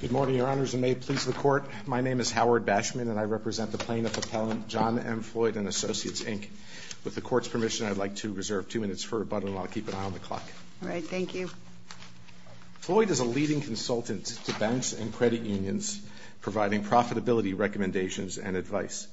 Good morning, Your Honors, and may it please the Court, my name is Howard Bashman and I represent the plaintiff-appellant John M. Floyd & Associates Inc. With the Court's permission, I'd like to reserve two minutes for rebuttal and I'll keep an eye on the clock. All right, thank you. Floyd is a leading consultant to banks and credit unions, providing profitability recommendations and advice.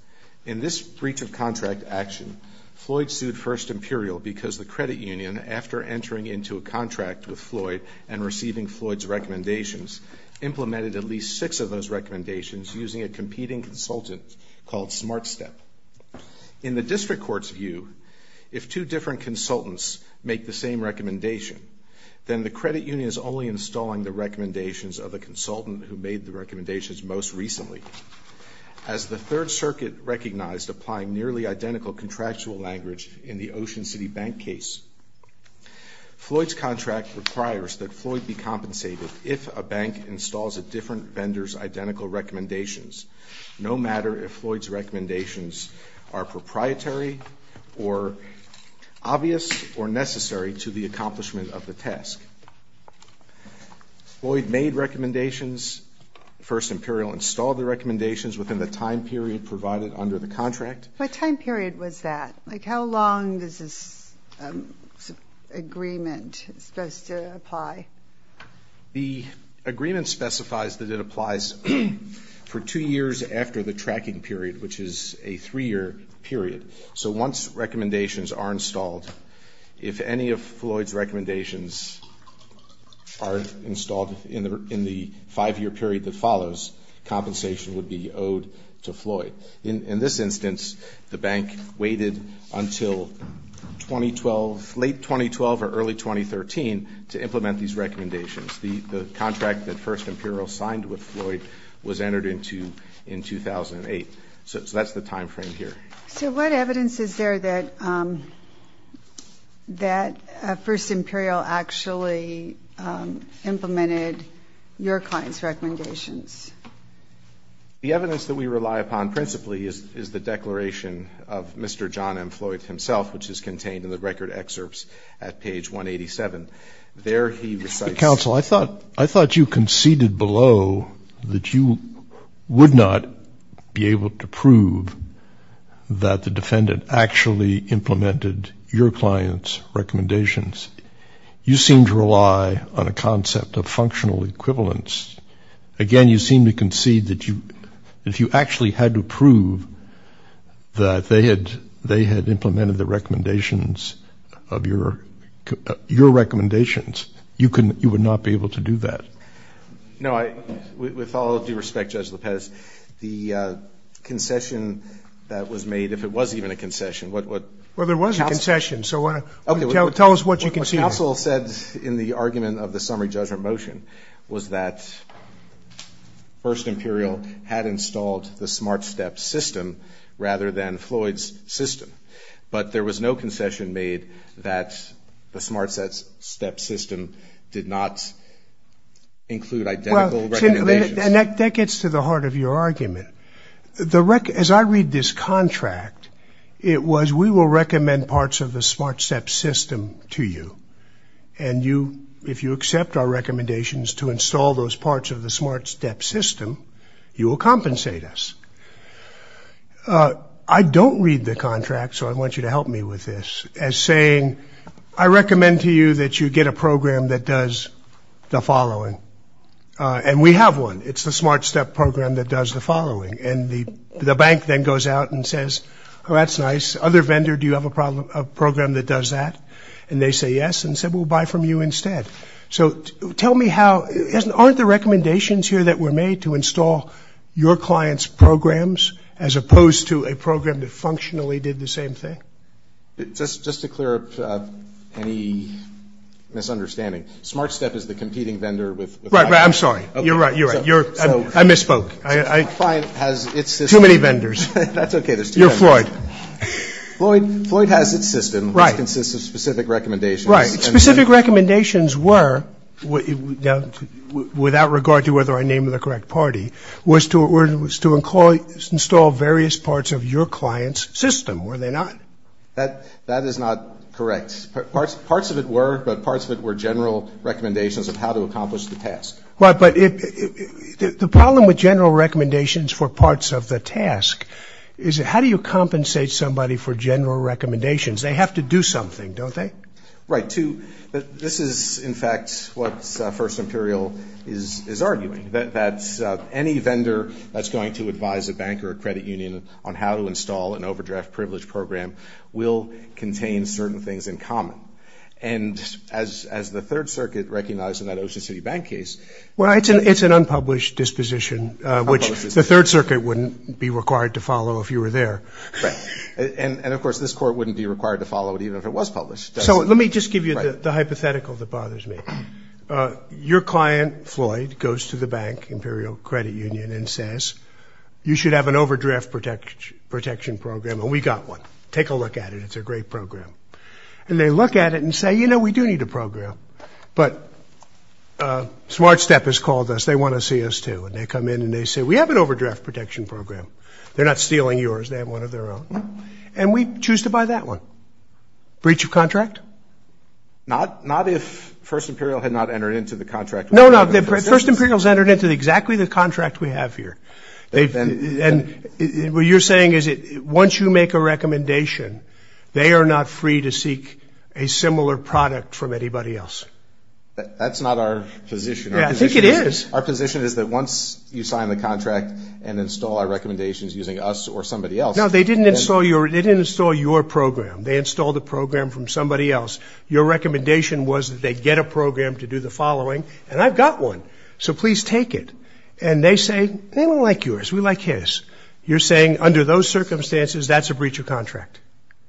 In this breach of contract action, Floyd sued First Imperial because the credit union, after entering into a contract with Floyd and receiving Floyd's recommendations, implemented at least six of those recommendations using a competing consultant called SmartStep. In the district court's view, if two different consultants make the same recommendation, then the credit union is only installing the recommendations of the consultant who made the recommendations most recently. As the Third Circuit recognized applying nearly identical contractual language in the Ocean City Bank case, Floyd's contract requires that Floyd be compensated if a bank installs a different vendor's identical recommendations, no matter if Floyd's recommendations are proprietary or obvious or necessary to the accomplishment of the task. Floyd made recommendations. First Imperial installed the recommendations within the time period provided under the contract. What time period was that? Like how long is this agreement supposed to apply? The agreement specifies that it applies for two years after the tracking period, which is a three-year period. So once recommendations are installed, if any of Floyd's recommendations are installed in the five-year period that follows, compensation would be owed to Floyd. In this instance, the bank waited until late 2012 or early 2013 to implement these recommendations. The contract that First Imperial signed with Floyd was entered into in 2008. So that's the time frame here. So what evidence is there that First Imperial actually implemented your client's recommendations? The evidence that we rely upon principally is the declaration of Mr. John M. Floyd himself, which is contained in the record excerpts at page 187. Counsel, I thought you conceded below that you would not be able to prove that the defendant actually implemented your client's recommendations. You seem to rely on a concept of functional equivalence. Again, you seem to concede that if you actually had to prove that they had implemented the recommendations of your recommendations, you would not be able to do that. No, with all due respect, Judge Lopez, the concession that was made, if it was even a concession, what ‑‑ Well, there was a concession, so tell us what you conceded. What the counsel said in the argument of the summary judgment motion was that First Imperial had installed the Smart Step system rather than Floyd's system, but there was no concession made that the Smart Step system did not include identical recommendations. And that gets to the heart of your argument. As I read this contract, it was we will recommend parts of the Smart Step system to you, and if you accept our recommendations to install those parts of the Smart Step system, you will compensate us. I don't read the contract, so I want you to help me with this, as saying I recommend to you that you get a program that does the following. And we have one. It's the Smart Step program that does the following. And the bank then goes out and says, oh, that's nice. Other vendor, do you have a program that does that? And they say yes and said we'll buy from you instead. So tell me how ‑‑ aren't the recommendations here that were made to install your client's programs as opposed to a program that functionally did the same thing? Just to clear up any misunderstanding, Smart Step is the competing vendor with ‑‑ Right, right. I'm sorry. You're right. You're right. I misspoke. The client has its system. Too many vendors. That's okay. You're Floyd. Floyd has its system. Right. It consists of specific recommendations. Right. Specific recommendations were, without regard to whether I named the correct party, was to install various parts of your client's system, were they not? That is not correct. Parts of it were, but parts of it were general recommendations of how to accomplish the task. Right, but the problem with general recommendations for parts of the task is how do you compensate somebody for general recommendations? They have to do something, don't they? Right. This is, in fact, what First Imperial is arguing, that any vendor that's going to advise a bank or a credit union on how to install an overdraft privilege program will contain certain things in common. And as the Third Circuit recognized in that Ocean City Bank case ‑‑ Well, it's an unpublished disposition, which the Third Circuit wouldn't be required to follow if you were there. Right. And, of course, this Court wouldn't be required to follow it even if it was published. So let me just give you the hypothetical that bothers me. Your client, Floyd, goes to the bank, Imperial Credit Union, and says you should have an overdraft protection program, and we got one. Take a look at it. It's a great program. And they look at it and say, you know, we do need a program. But Smart Step has called us. They want to see us too. And they come in and they say, we have an overdraft protection program. They're not stealing yours. They have one of their own. And we choose to buy that one. Breach of contract? Not if First Imperial had not entered into the contract. No, no. First Imperial has entered into exactly the contract we have here. And what you're saying is once you make a recommendation, they are not free to seek a similar product from anybody else. That's not our position. Yeah, I think it is. Our position is that once you sign the contract and install our recommendations using us or somebody else. No, they didn't install your program. They installed a program from somebody else. Your recommendation was that they get a program to do the following. And I've got one. So please take it. And they say, they don't like yours. We like his. You're saying under those circumstances, that's a breach of contract.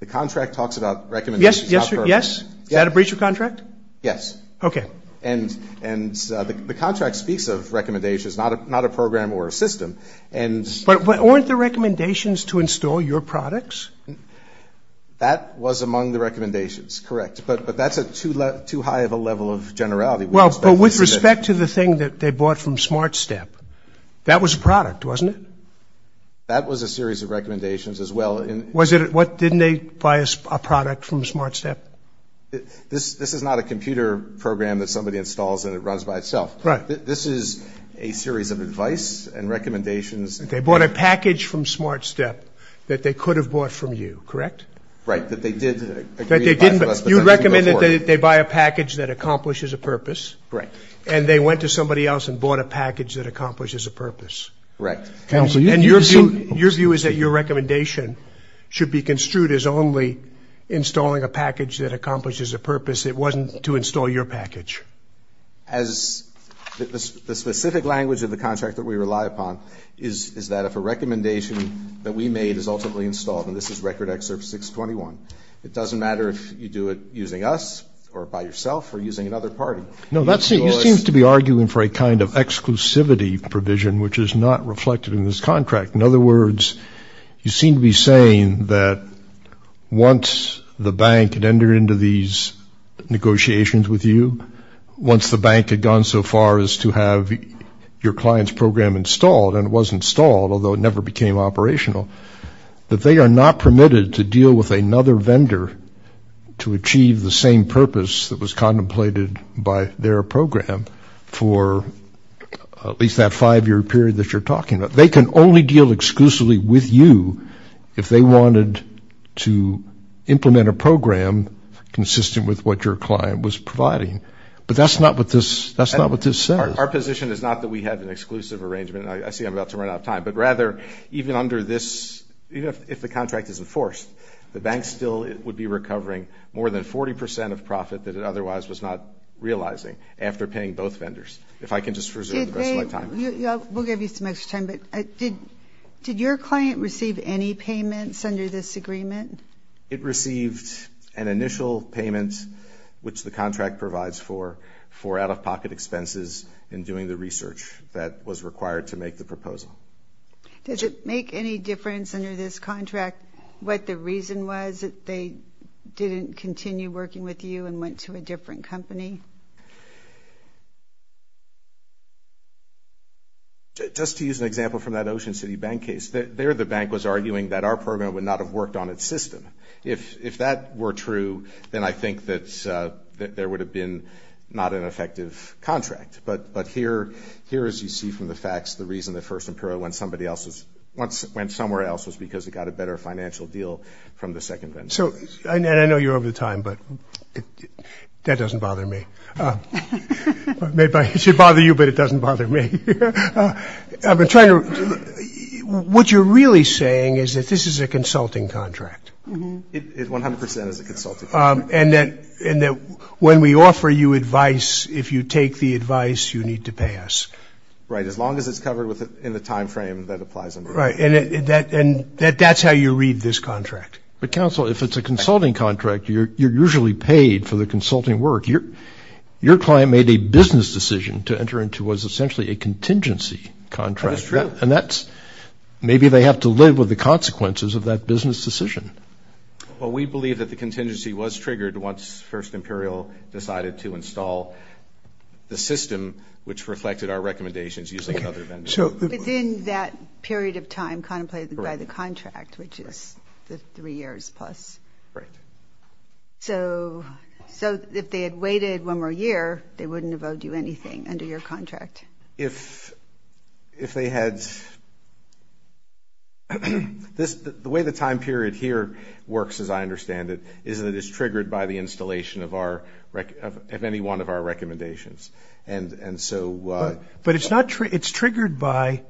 The contract talks about recommendations. Yes? Is that a breach of contract? Yes. Okay. And the contract speaks of recommendations, not a program or a system. But weren't the recommendations to install your products? That was among the recommendations, correct. But that's too high of a level of generality. Well, with respect to the thing that they bought from SmartStep, that was a product, wasn't it? That was a series of recommendations as well. Didn't they buy a product from SmartStep? This is not a computer program that somebody installs and it runs by itself. Right. This is a series of advice and recommendations. They bought a package from SmartStep that they could have bought from you, correct? Right. That they did agree to buy from us. You recommended that they buy a package that accomplishes a purpose. Right. And they went to somebody else and bought a package that accomplishes a purpose. Correct. And your view is that your recommendation should be construed as only installing a package that accomplishes a purpose. It wasn't to install your package. The specific language of the contract that we rely upon is that if a recommendation that we made is ultimately installed, and this is Record Act 621, it doesn't matter if you do it using us or by yourself or using another party. No, you seem to be arguing for a kind of exclusivity provision, which is not reflected in this contract. In other words, you seem to be saying that once the bank had entered into these negotiations with you, once the bank had gone so far as to have your client's program installed, and it was installed, although it never became operational, that they are not permitted to deal with another vendor to achieve the same purpose that was contemplated by their program for at least that five-year period that you're talking about. They can only deal exclusively with you if they wanted to implement a program that your client was providing. But that's not what this says. Our position is not that we have an exclusive arrangement. I see I'm about to run out of time, but rather even under this, even if the contract is enforced, the bank still would be recovering more than 40% of profit that it otherwise was not realizing after paying both vendors. If I can just reserve the rest of my time. We'll give you some extra time, but did your client receive any payments under this agreement? It received an initial payment, which the contract provides for, for out-of-pocket expenses in doing the research that was required to make the proposal. Does it make any difference under this contract what the reason was that they didn't continue working with you and went to a different company? Just to use an example from that Ocean City Bank case, there the bank was arguing that our program would not have worked on its system. If that were true, then I think that there would have been not an effective contract. But here, as you see from the facts, the reason that First Imperial went somewhere else was because it got a better financial deal from the second vendor. And I know you're over the time, but that doesn't bother me. It should bother you, but it doesn't bother me. What you're really saying is that this is a consulting contract. It 100% is a consulting contract. And that when we offer you advice, if you take the advice, you need to pay us. Right, as long as it's covered in the time frame that applies under the contract. Right, and that's how you read this contract. But, counsel, if it's a consulting contract, you're usually paid for the consulting work. Your client made a business decision to enter into what's essentially a contingency contract. That's true. And that's, maybe they have to live with the consequences of that business decision. Well, we believe that the contingency was triggered once First Imperial decided to install the system, which reflected our recommendations using other vendors. Within that period of time contemplated by the contract, which is the three years plus. Right. So, so if they had waited one more year, they wouldn't have owed you anything under your contract. If, if they had, this, the way the time period here works, as I understand it, is that it's triggered by the installation of our, of any one of our recommendations. And, and so, but it's not true. It's triggered by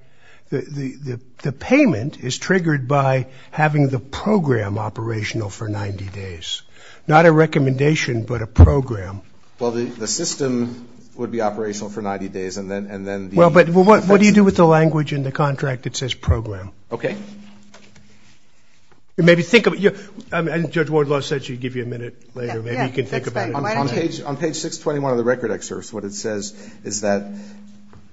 the, the payment is triggered by having the program operational for 90 days, not a recommendation, but a program. Well, the, the system would be operational for 90 days. And then, and then, well, but what, what do you do with the language in the contract? It says program. Okay. Maybe think of it. Judge Wardlaw said she'd give you a minute later. Maybe you can think about it. On page, on page 621 of the record excerpts. What it says is that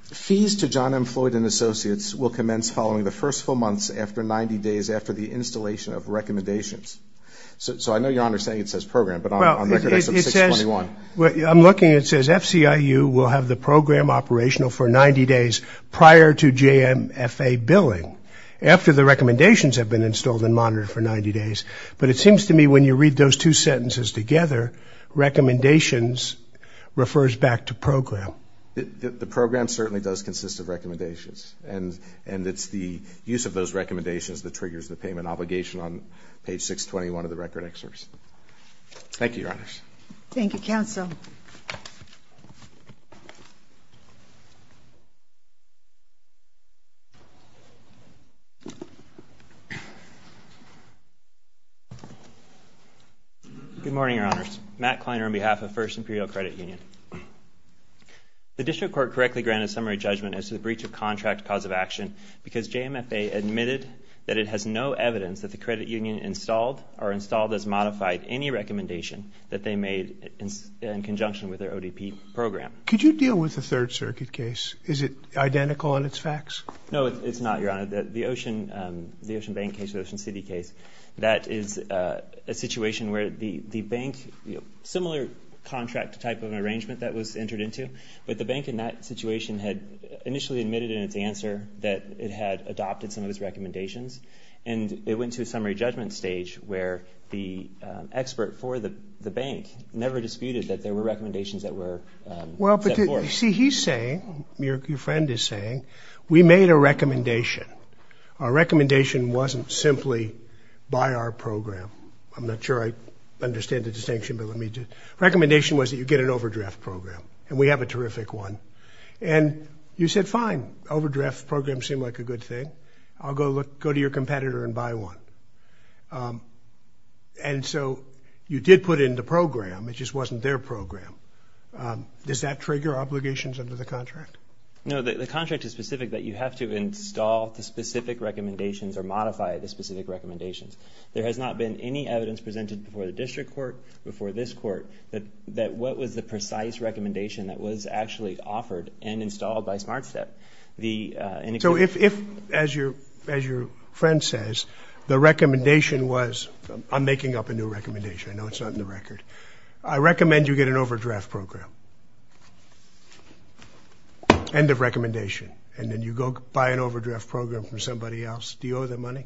fees to John M Floyd and associates will commence following the first four months after 90 days after the installation of recommendations. So, so I know you're understanding it says program, but on record, it says, well, I'm looking, it says FCI, you will have the program operational for 90 days prior to JMFA billing after the recommendations have been installed and monitored for 90 days. But it seems to me when you read those two sentences together, recommendations refers back to program. The program certainly does consist of recommendations. And, and it's the use of those recommendations that triggers the payment obligation on page 621 of the record excerpts. Thank you. Your honors. Thank you. Counsel. Good morning, your honors Matt Kleiner on behalf of first imperial credit union, the district court correctly granted summary judgment as to the breach of contract cause of action because JMFA admitted that it has no evidence that the credit union installed or installed as modified any recommendation that they made in conjunction with their ODP program. Could you deal with the third circuit case? Is it identical in its facts? No, it's not your honor that the ocean, the ocean bank case ocean city case. That is a situation where the, the bank similar contract type of arrangement that was entered into, but the bank in that situation had initially admitted in its answer that it had adopted some of his recommendations. And it went to a summary judgment stage where the expert for the, the bank never disputed that there were recommendations that were well, but you see, he's saying your friend is saying we made a recommendation. Our recommendation wasn't simply by our program. I'm not sure I understand the distinction, but let me do recommendation was that you get an overdraft program and we have a terrific one. And you said, fine overdraft program seemed like a good thing. I'll go look, go to your competitor and buy one. And so you did put it in the program. It just wasn't their program. Does that trigger obligations under the contract? No, the contract is specific that you have to install the specific recommendations or modify the specific recommendations. There has not been any evidence presented before the district court before this court that, that what was the precise recommendation that was actually offered and installed by smart step. So if, if as your, as your friend says, the recommendation was, I'm making up a new recommendation. I know it's not in the record. I recommend you get an overdraft program end of recommendation. And then you go buy an overdraft program from somebody else. Do you owe them money?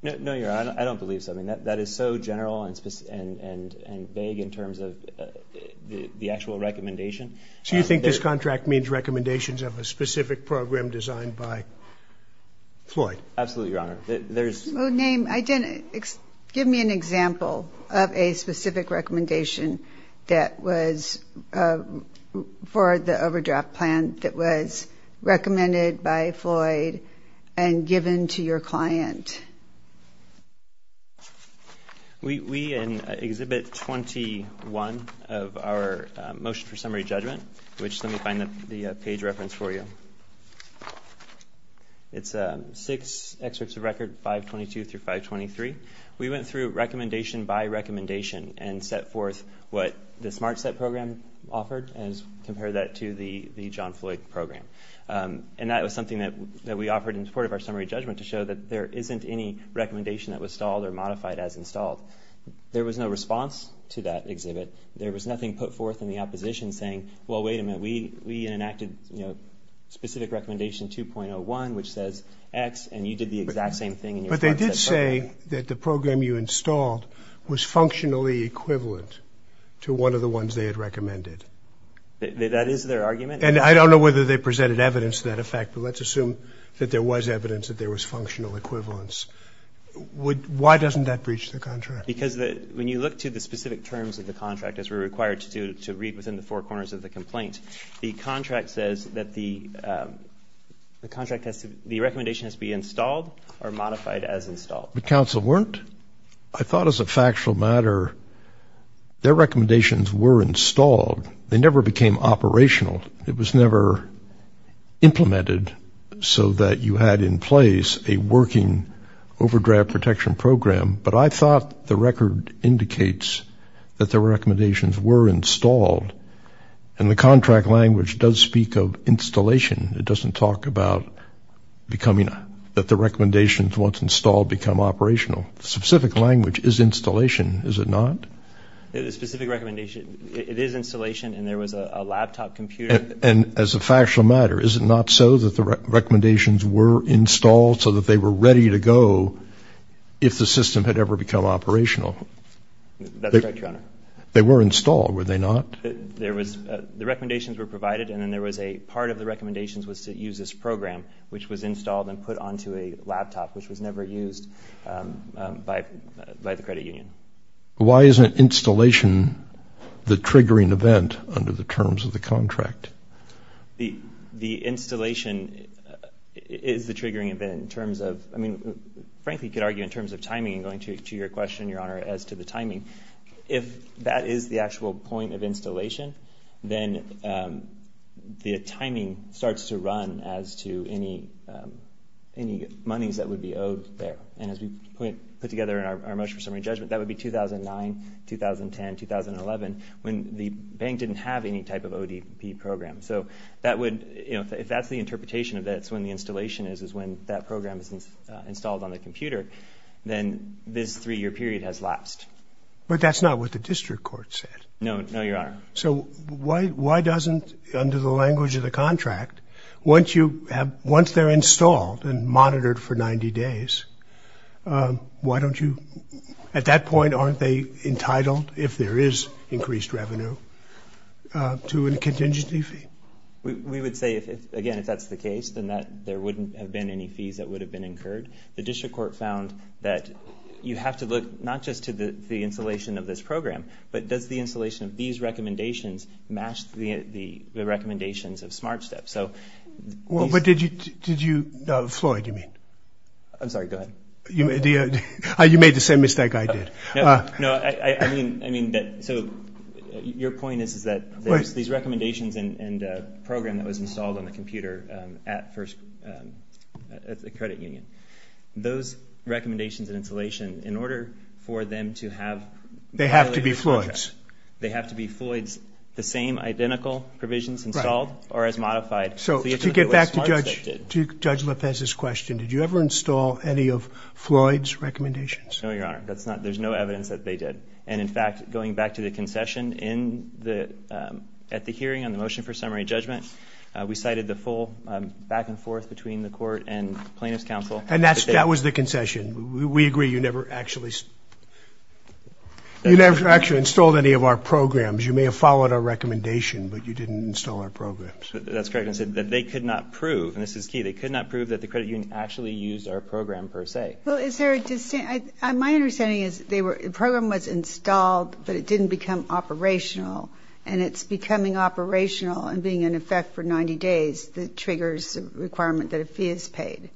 No, I don't believe something that, that is so general and specific and, and, and vague in terms of the actual recommendation. So you think this contract means recommendations of a specific program designed by Floyd? Absolutely. Your honor, there's no name. I didn't. Give me an example of a specific recommendation that was for the overdraft plan that was recommended by Floyd and given to your client. We, in exhibit 21 of our motion for summary judgment, which let me find the page reference for you. It's six excerpts of record five 22 through five 23. We went through recommendation by recommendation and set forth what the smart set program offered and compare that to the, the John Floyd program. And that was something that we offered in support of our summary judgment to show that there isn't any recommendation that was stalled or modified as installed. There was no response to that exhibit. There was nothing put forth in the opposition saying, well, wait a minute, we, we enacted, you know, specific recommendation 2.01, which says X and you did the exact same thing. But they did say that the program you installed was functionally equivalent to one of the ones they had recommended. That is their argument. And I don't know whether they presented evidence to that effect, but let's assume that there was evidence that there was functional equivalence. Would, why doesn't that breach the contract? Because the, when you look to the specific terms of the contract, as we're required to do to read within the four corners of the complaint, the contract says that the, um, the contract has to, the recommendation has to be installed or modified as installed. The council weren't, I thought as a factual matter, their recommendations were installed. They never became operational. It was never implemented. So that you had in place a working overdraft protection program. But I thought the record indicates that the recommendations were installed and the contract language does speak of installation. It doesn't talk about becoming, that the recommendations once installed become operational. Specific language is installation. Is it not? It is specific recommendation. It is installation. And there was a laptop computer. And as a factual matter, is it not so that the recommendations were installed so that they were ready to go? If the system had ever become operational. They were installed. Were they not? There was a, the recommendations were provided. And then there was a part of the recommendations was to use this program, which was installed and put onto a laptop, which was never used, um, um, by, by the credit union. Why isn't installation the triggering event under the terms of the contract? The, the installation, uh, is the triggering event in terms of, I mean, frankly, you could argue in terms of timing and going to, to your question, Your Honor, as to the timing. If that is the actual point of installation, then, um, the timing starts to run as to any, um, any monies that would be owed there. And as we put together in our motion for summary judgment, that would be 2009, 2010, 2011, when the bank didn't have any type of ODP program. So that would, you know, if that's the interpretation of that, it's when the installation is, is when that program is installed on the computer, then this three-year period has lapsed. But that's not what the district court said. No, no, Your Honor. So why, why doesn't, under the language of the contract, once you have, once they're installed and monitored for 90 days, um, why don't you, at that point, aren't they entitled, if there is increased revenue, uh, to a contingency fee? We, we would say if, again, if that's the case, then that there wouldn't have been any fees that would have been incurred. The district court found that you have to look, not just to the, the installation of this program, but does the installation of these recommendations match the, the, the recommendations of Smart Step? So, Well, but did you, did you, uh, Floyd, you mean? I'm sorry, go ahead. You, you made the same mistake I did. No, no, I, I mean, I mean that, so your point is, is that there's these recommendations and, and, uh, program that was installed on the computer, um, at first, um, at the credit union, those recommendations and installation in order for them to have, they have to be Floyd's, they have to be Floyd's, the same identical provisions installed or as modified. So to get back to Judge, to Judge Lopez's question, did you ever install any of Floyd's recommendations? No, Your Honor, that's not, there's no evidence that they did. And in fact, going back to the concession in the, um, at the hearing on the motion for summary judgment, uh, we cited the full, um, back and forth between the court and plaintiff's counsel. And that's, that was the concession. We agree. You never actually, you never actually installed any of our programs. You may have followed our recommendation, but you didn't install our programs. That's correct. And said that they could not prove, and this is key. They could not prove that the credit union actually used our program per se. Well, is there a distinct, I, my understanding is they were, the program was installed, but it didn't become operational and it's becoming operational and being in effect for 90 days. The triggers requirement that a fee is paid.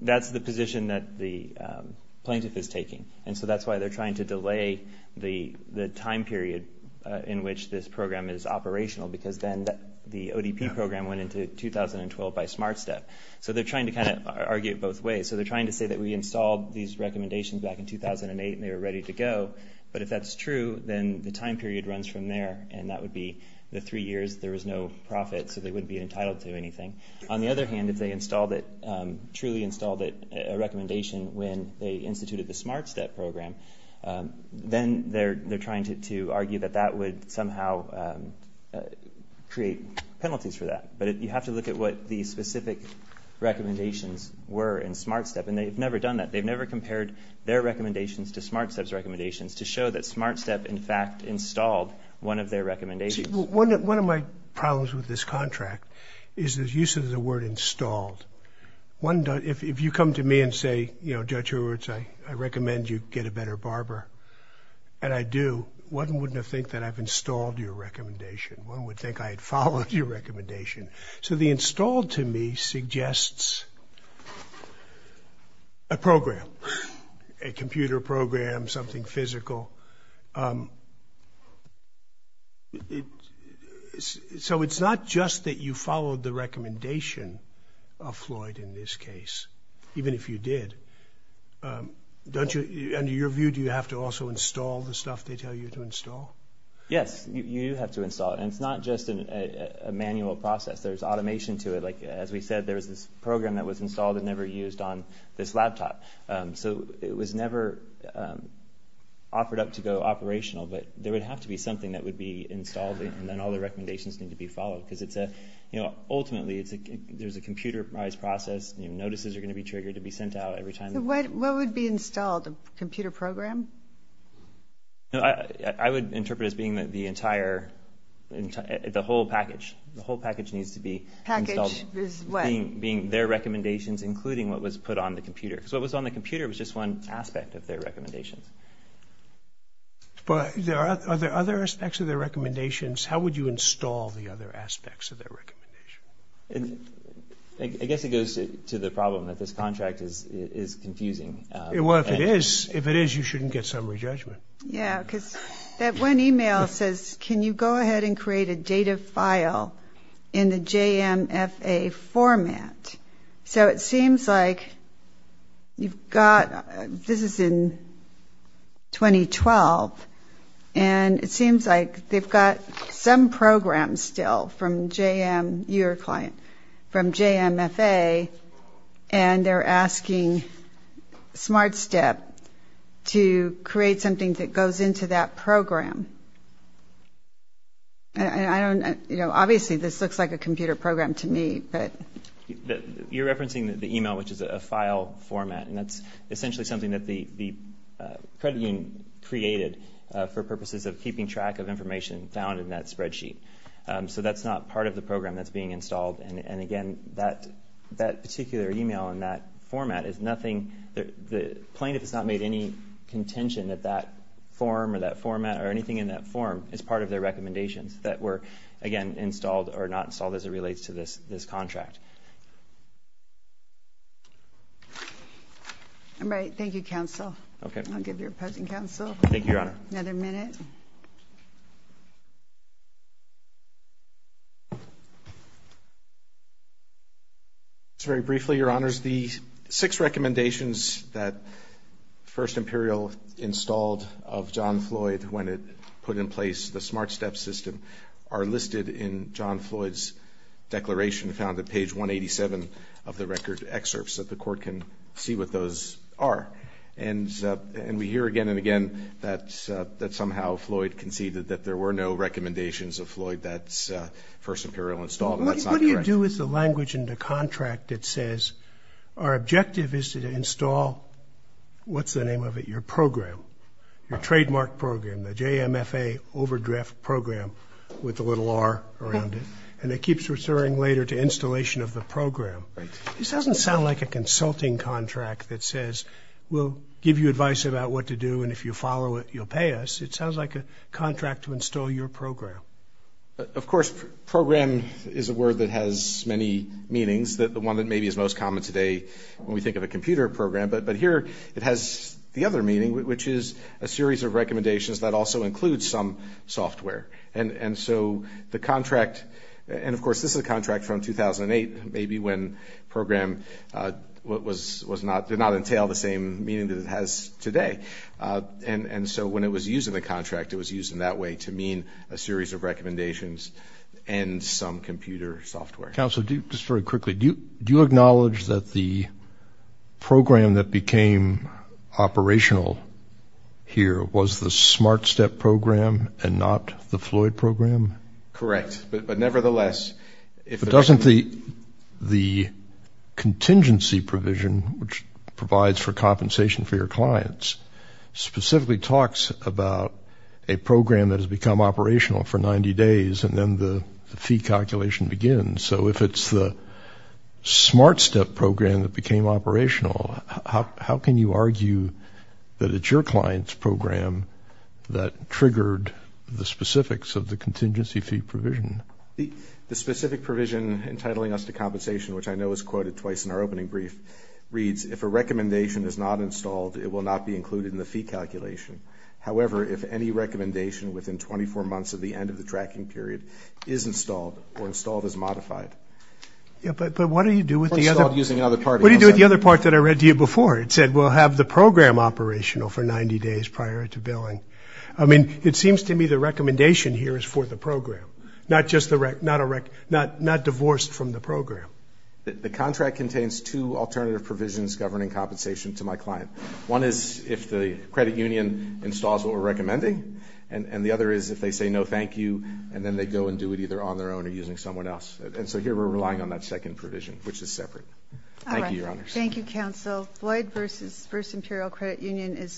That's the position that the, um, plaintiff is taking. And so that's why they're trying to delay the, the time period, uh, in which this program is operational, because then the ODP program went into 2012 by smart step. So they're trying to kind of argue it both ways. So they're trying to say that we installed these recommendations back in 2008 and they were ready to go. But if that's true, then the time period runs from there. And that would be the three years. There was no profit. So they wouldn't be entitled to anything. On the other hand, if they installed it, um, truly installed it, a recommendation when they instituted the smart step program, um, then they're, they're trying to, to argue that that would somehow, um, uh, create penalties for that. But you have to look at what the specific recommendations were in smart step. And they've never done that. They've never compared their recommendations to smart steps, recommendations to show that smart step, in fact, installed one of their recommendations. One of my problems with this contract is the use of the word installed. One, if you come to me and say, you know, judge, I recommend you get a better barber and I do. One wouldn't have think that I've installed your recommendation. One would think I had followed your recommendation. So the installed to me suggests a program, a computer program, something physical. Um, it, so it's not just that you followed the recommendation of Floyd in this case, even if you did, um, don't you, under your view, do you have to also install the stuff they tell you to install? Yes, you have to install it. And it's not just a manual process. There's automation to it. Like, as we said, there was this program that was installed and never used on this laptop. Um, so it was never, um, offered up to go operational, but there would have to be something that would be installed and then all the recommendations need to be followed because it's a, you know, ultimately it's a, there's a computerized process. You know, notices are going to be triggered to be sent out every time. What would be installed? The computer program? No, I, I would interpret it as being that the entire, the whole package, the whole package needs to be being their recommendations, including what was put on the computer. So it was on the computer. It was just one aspect of their recommendations, but there are other, other aspects of their recommendations. How would you install the other aspects of their recommendation? I guess it goes to the problem that this contract is, is confusing. Well, if it is, if it is, you shouldn't get summary judgment. Yeah. Cause that one email says, can you go ahead and create a data file in the JMFA format? So it seems like you've got, this is in 2012. And it seems like they've got some programs still from JM, your client from JMFA. And they're asking smart step to create something that goes into that program. And I don't, you know, obviously this looks like a computer program to me, but you're referencing the email, which is a file format. And that's essentially something that the, the credit union created for purposes of keeping track of information found in that spreadsheet. So that's not part of the program that's being installed. And, and again, that, that particular email in that format is nothing. The plaintiff has not made any contention that that form or that format or anything in that form is part of their recommendations that were again, installed or not installed as it relates to this, this contract. All right. Thank you. Counsel. Okay. I'll give your opposing counsel. Thank you, your honor. Another minute. It's very briefly, your honors, the six recommendations that first Imperial installed of John Floyd, when it put in place, the smart step system are listed in John Floyd's declaration founded page one, 87 of the record excerpts that the court can see what those are. And, and we hear again and again, that, that somehow Floyd conceded that there were no recommendations of Floyd. That's a first Imperial installed. What do you do with the language in the contract? It says, our objective is to install. What's the name of it? Your program, your trademark program, the JMFA overdraft program with a little R around it. And it keeps reserving later to installation of the program. This doesn't sound like a consulting contract that says, we'll give you advice about what to do. And if you follow it, you'll pay us. It sounds like a contract to install your program. Of course, program is a word that has many meanings that the one that maybe is most common today when we think of a computer program, but, but here it has the other meaning, which is a series of recommendations that also includes some software. And, and so the contract, and of course this is a contract from 2008, maybe when program was, was not, did not entail the same meaning that it has today. And, and so when it was using the contract, it was used in that way to mean a series of recommendations and some computer software. Counselor, just very quickly, do you, do you acknowledge that the program that became operational here was the smart step program and not the Floyd program? Correct. But, but nevertheless, if it doesn't, the, the contingency provision, which provides for compensation for your clients specifically talks about a program that has become operational for 90 days. And then the fee calculation begins. So if it's the smart step program that became operational, how, how can you argue that it's your client's program that triggered the specifics of the contingency fee provision? The, the specific provision entitling us to compensation, which I know was quoted twice in our opening brief reads, if a recommendation is not installed, it will not be included in the fee calculation. However, if any recommendation within 24 months of the end of the tracking period is installed or installed as modified. Yeah, but, but what do you do with the other part? What do you do with the other part that I read to you before it said, we'll have the program operational for 90 days prior to billing. I mean, it seems to me the recommendation here is for the program, not just the rec, not a rec, not, not divorced from the program. The contract contains two alternative provisions governing compensation to my client. One is if the credit union installs what we're recommending. And the other is if they say, no, thank you. And then they go and do it either on their own or using someone else. And so here we're relying on that second provision, which is separate. Thank you. Your honors. Thank you. Counsel Floyd versus first Imperial credit union is.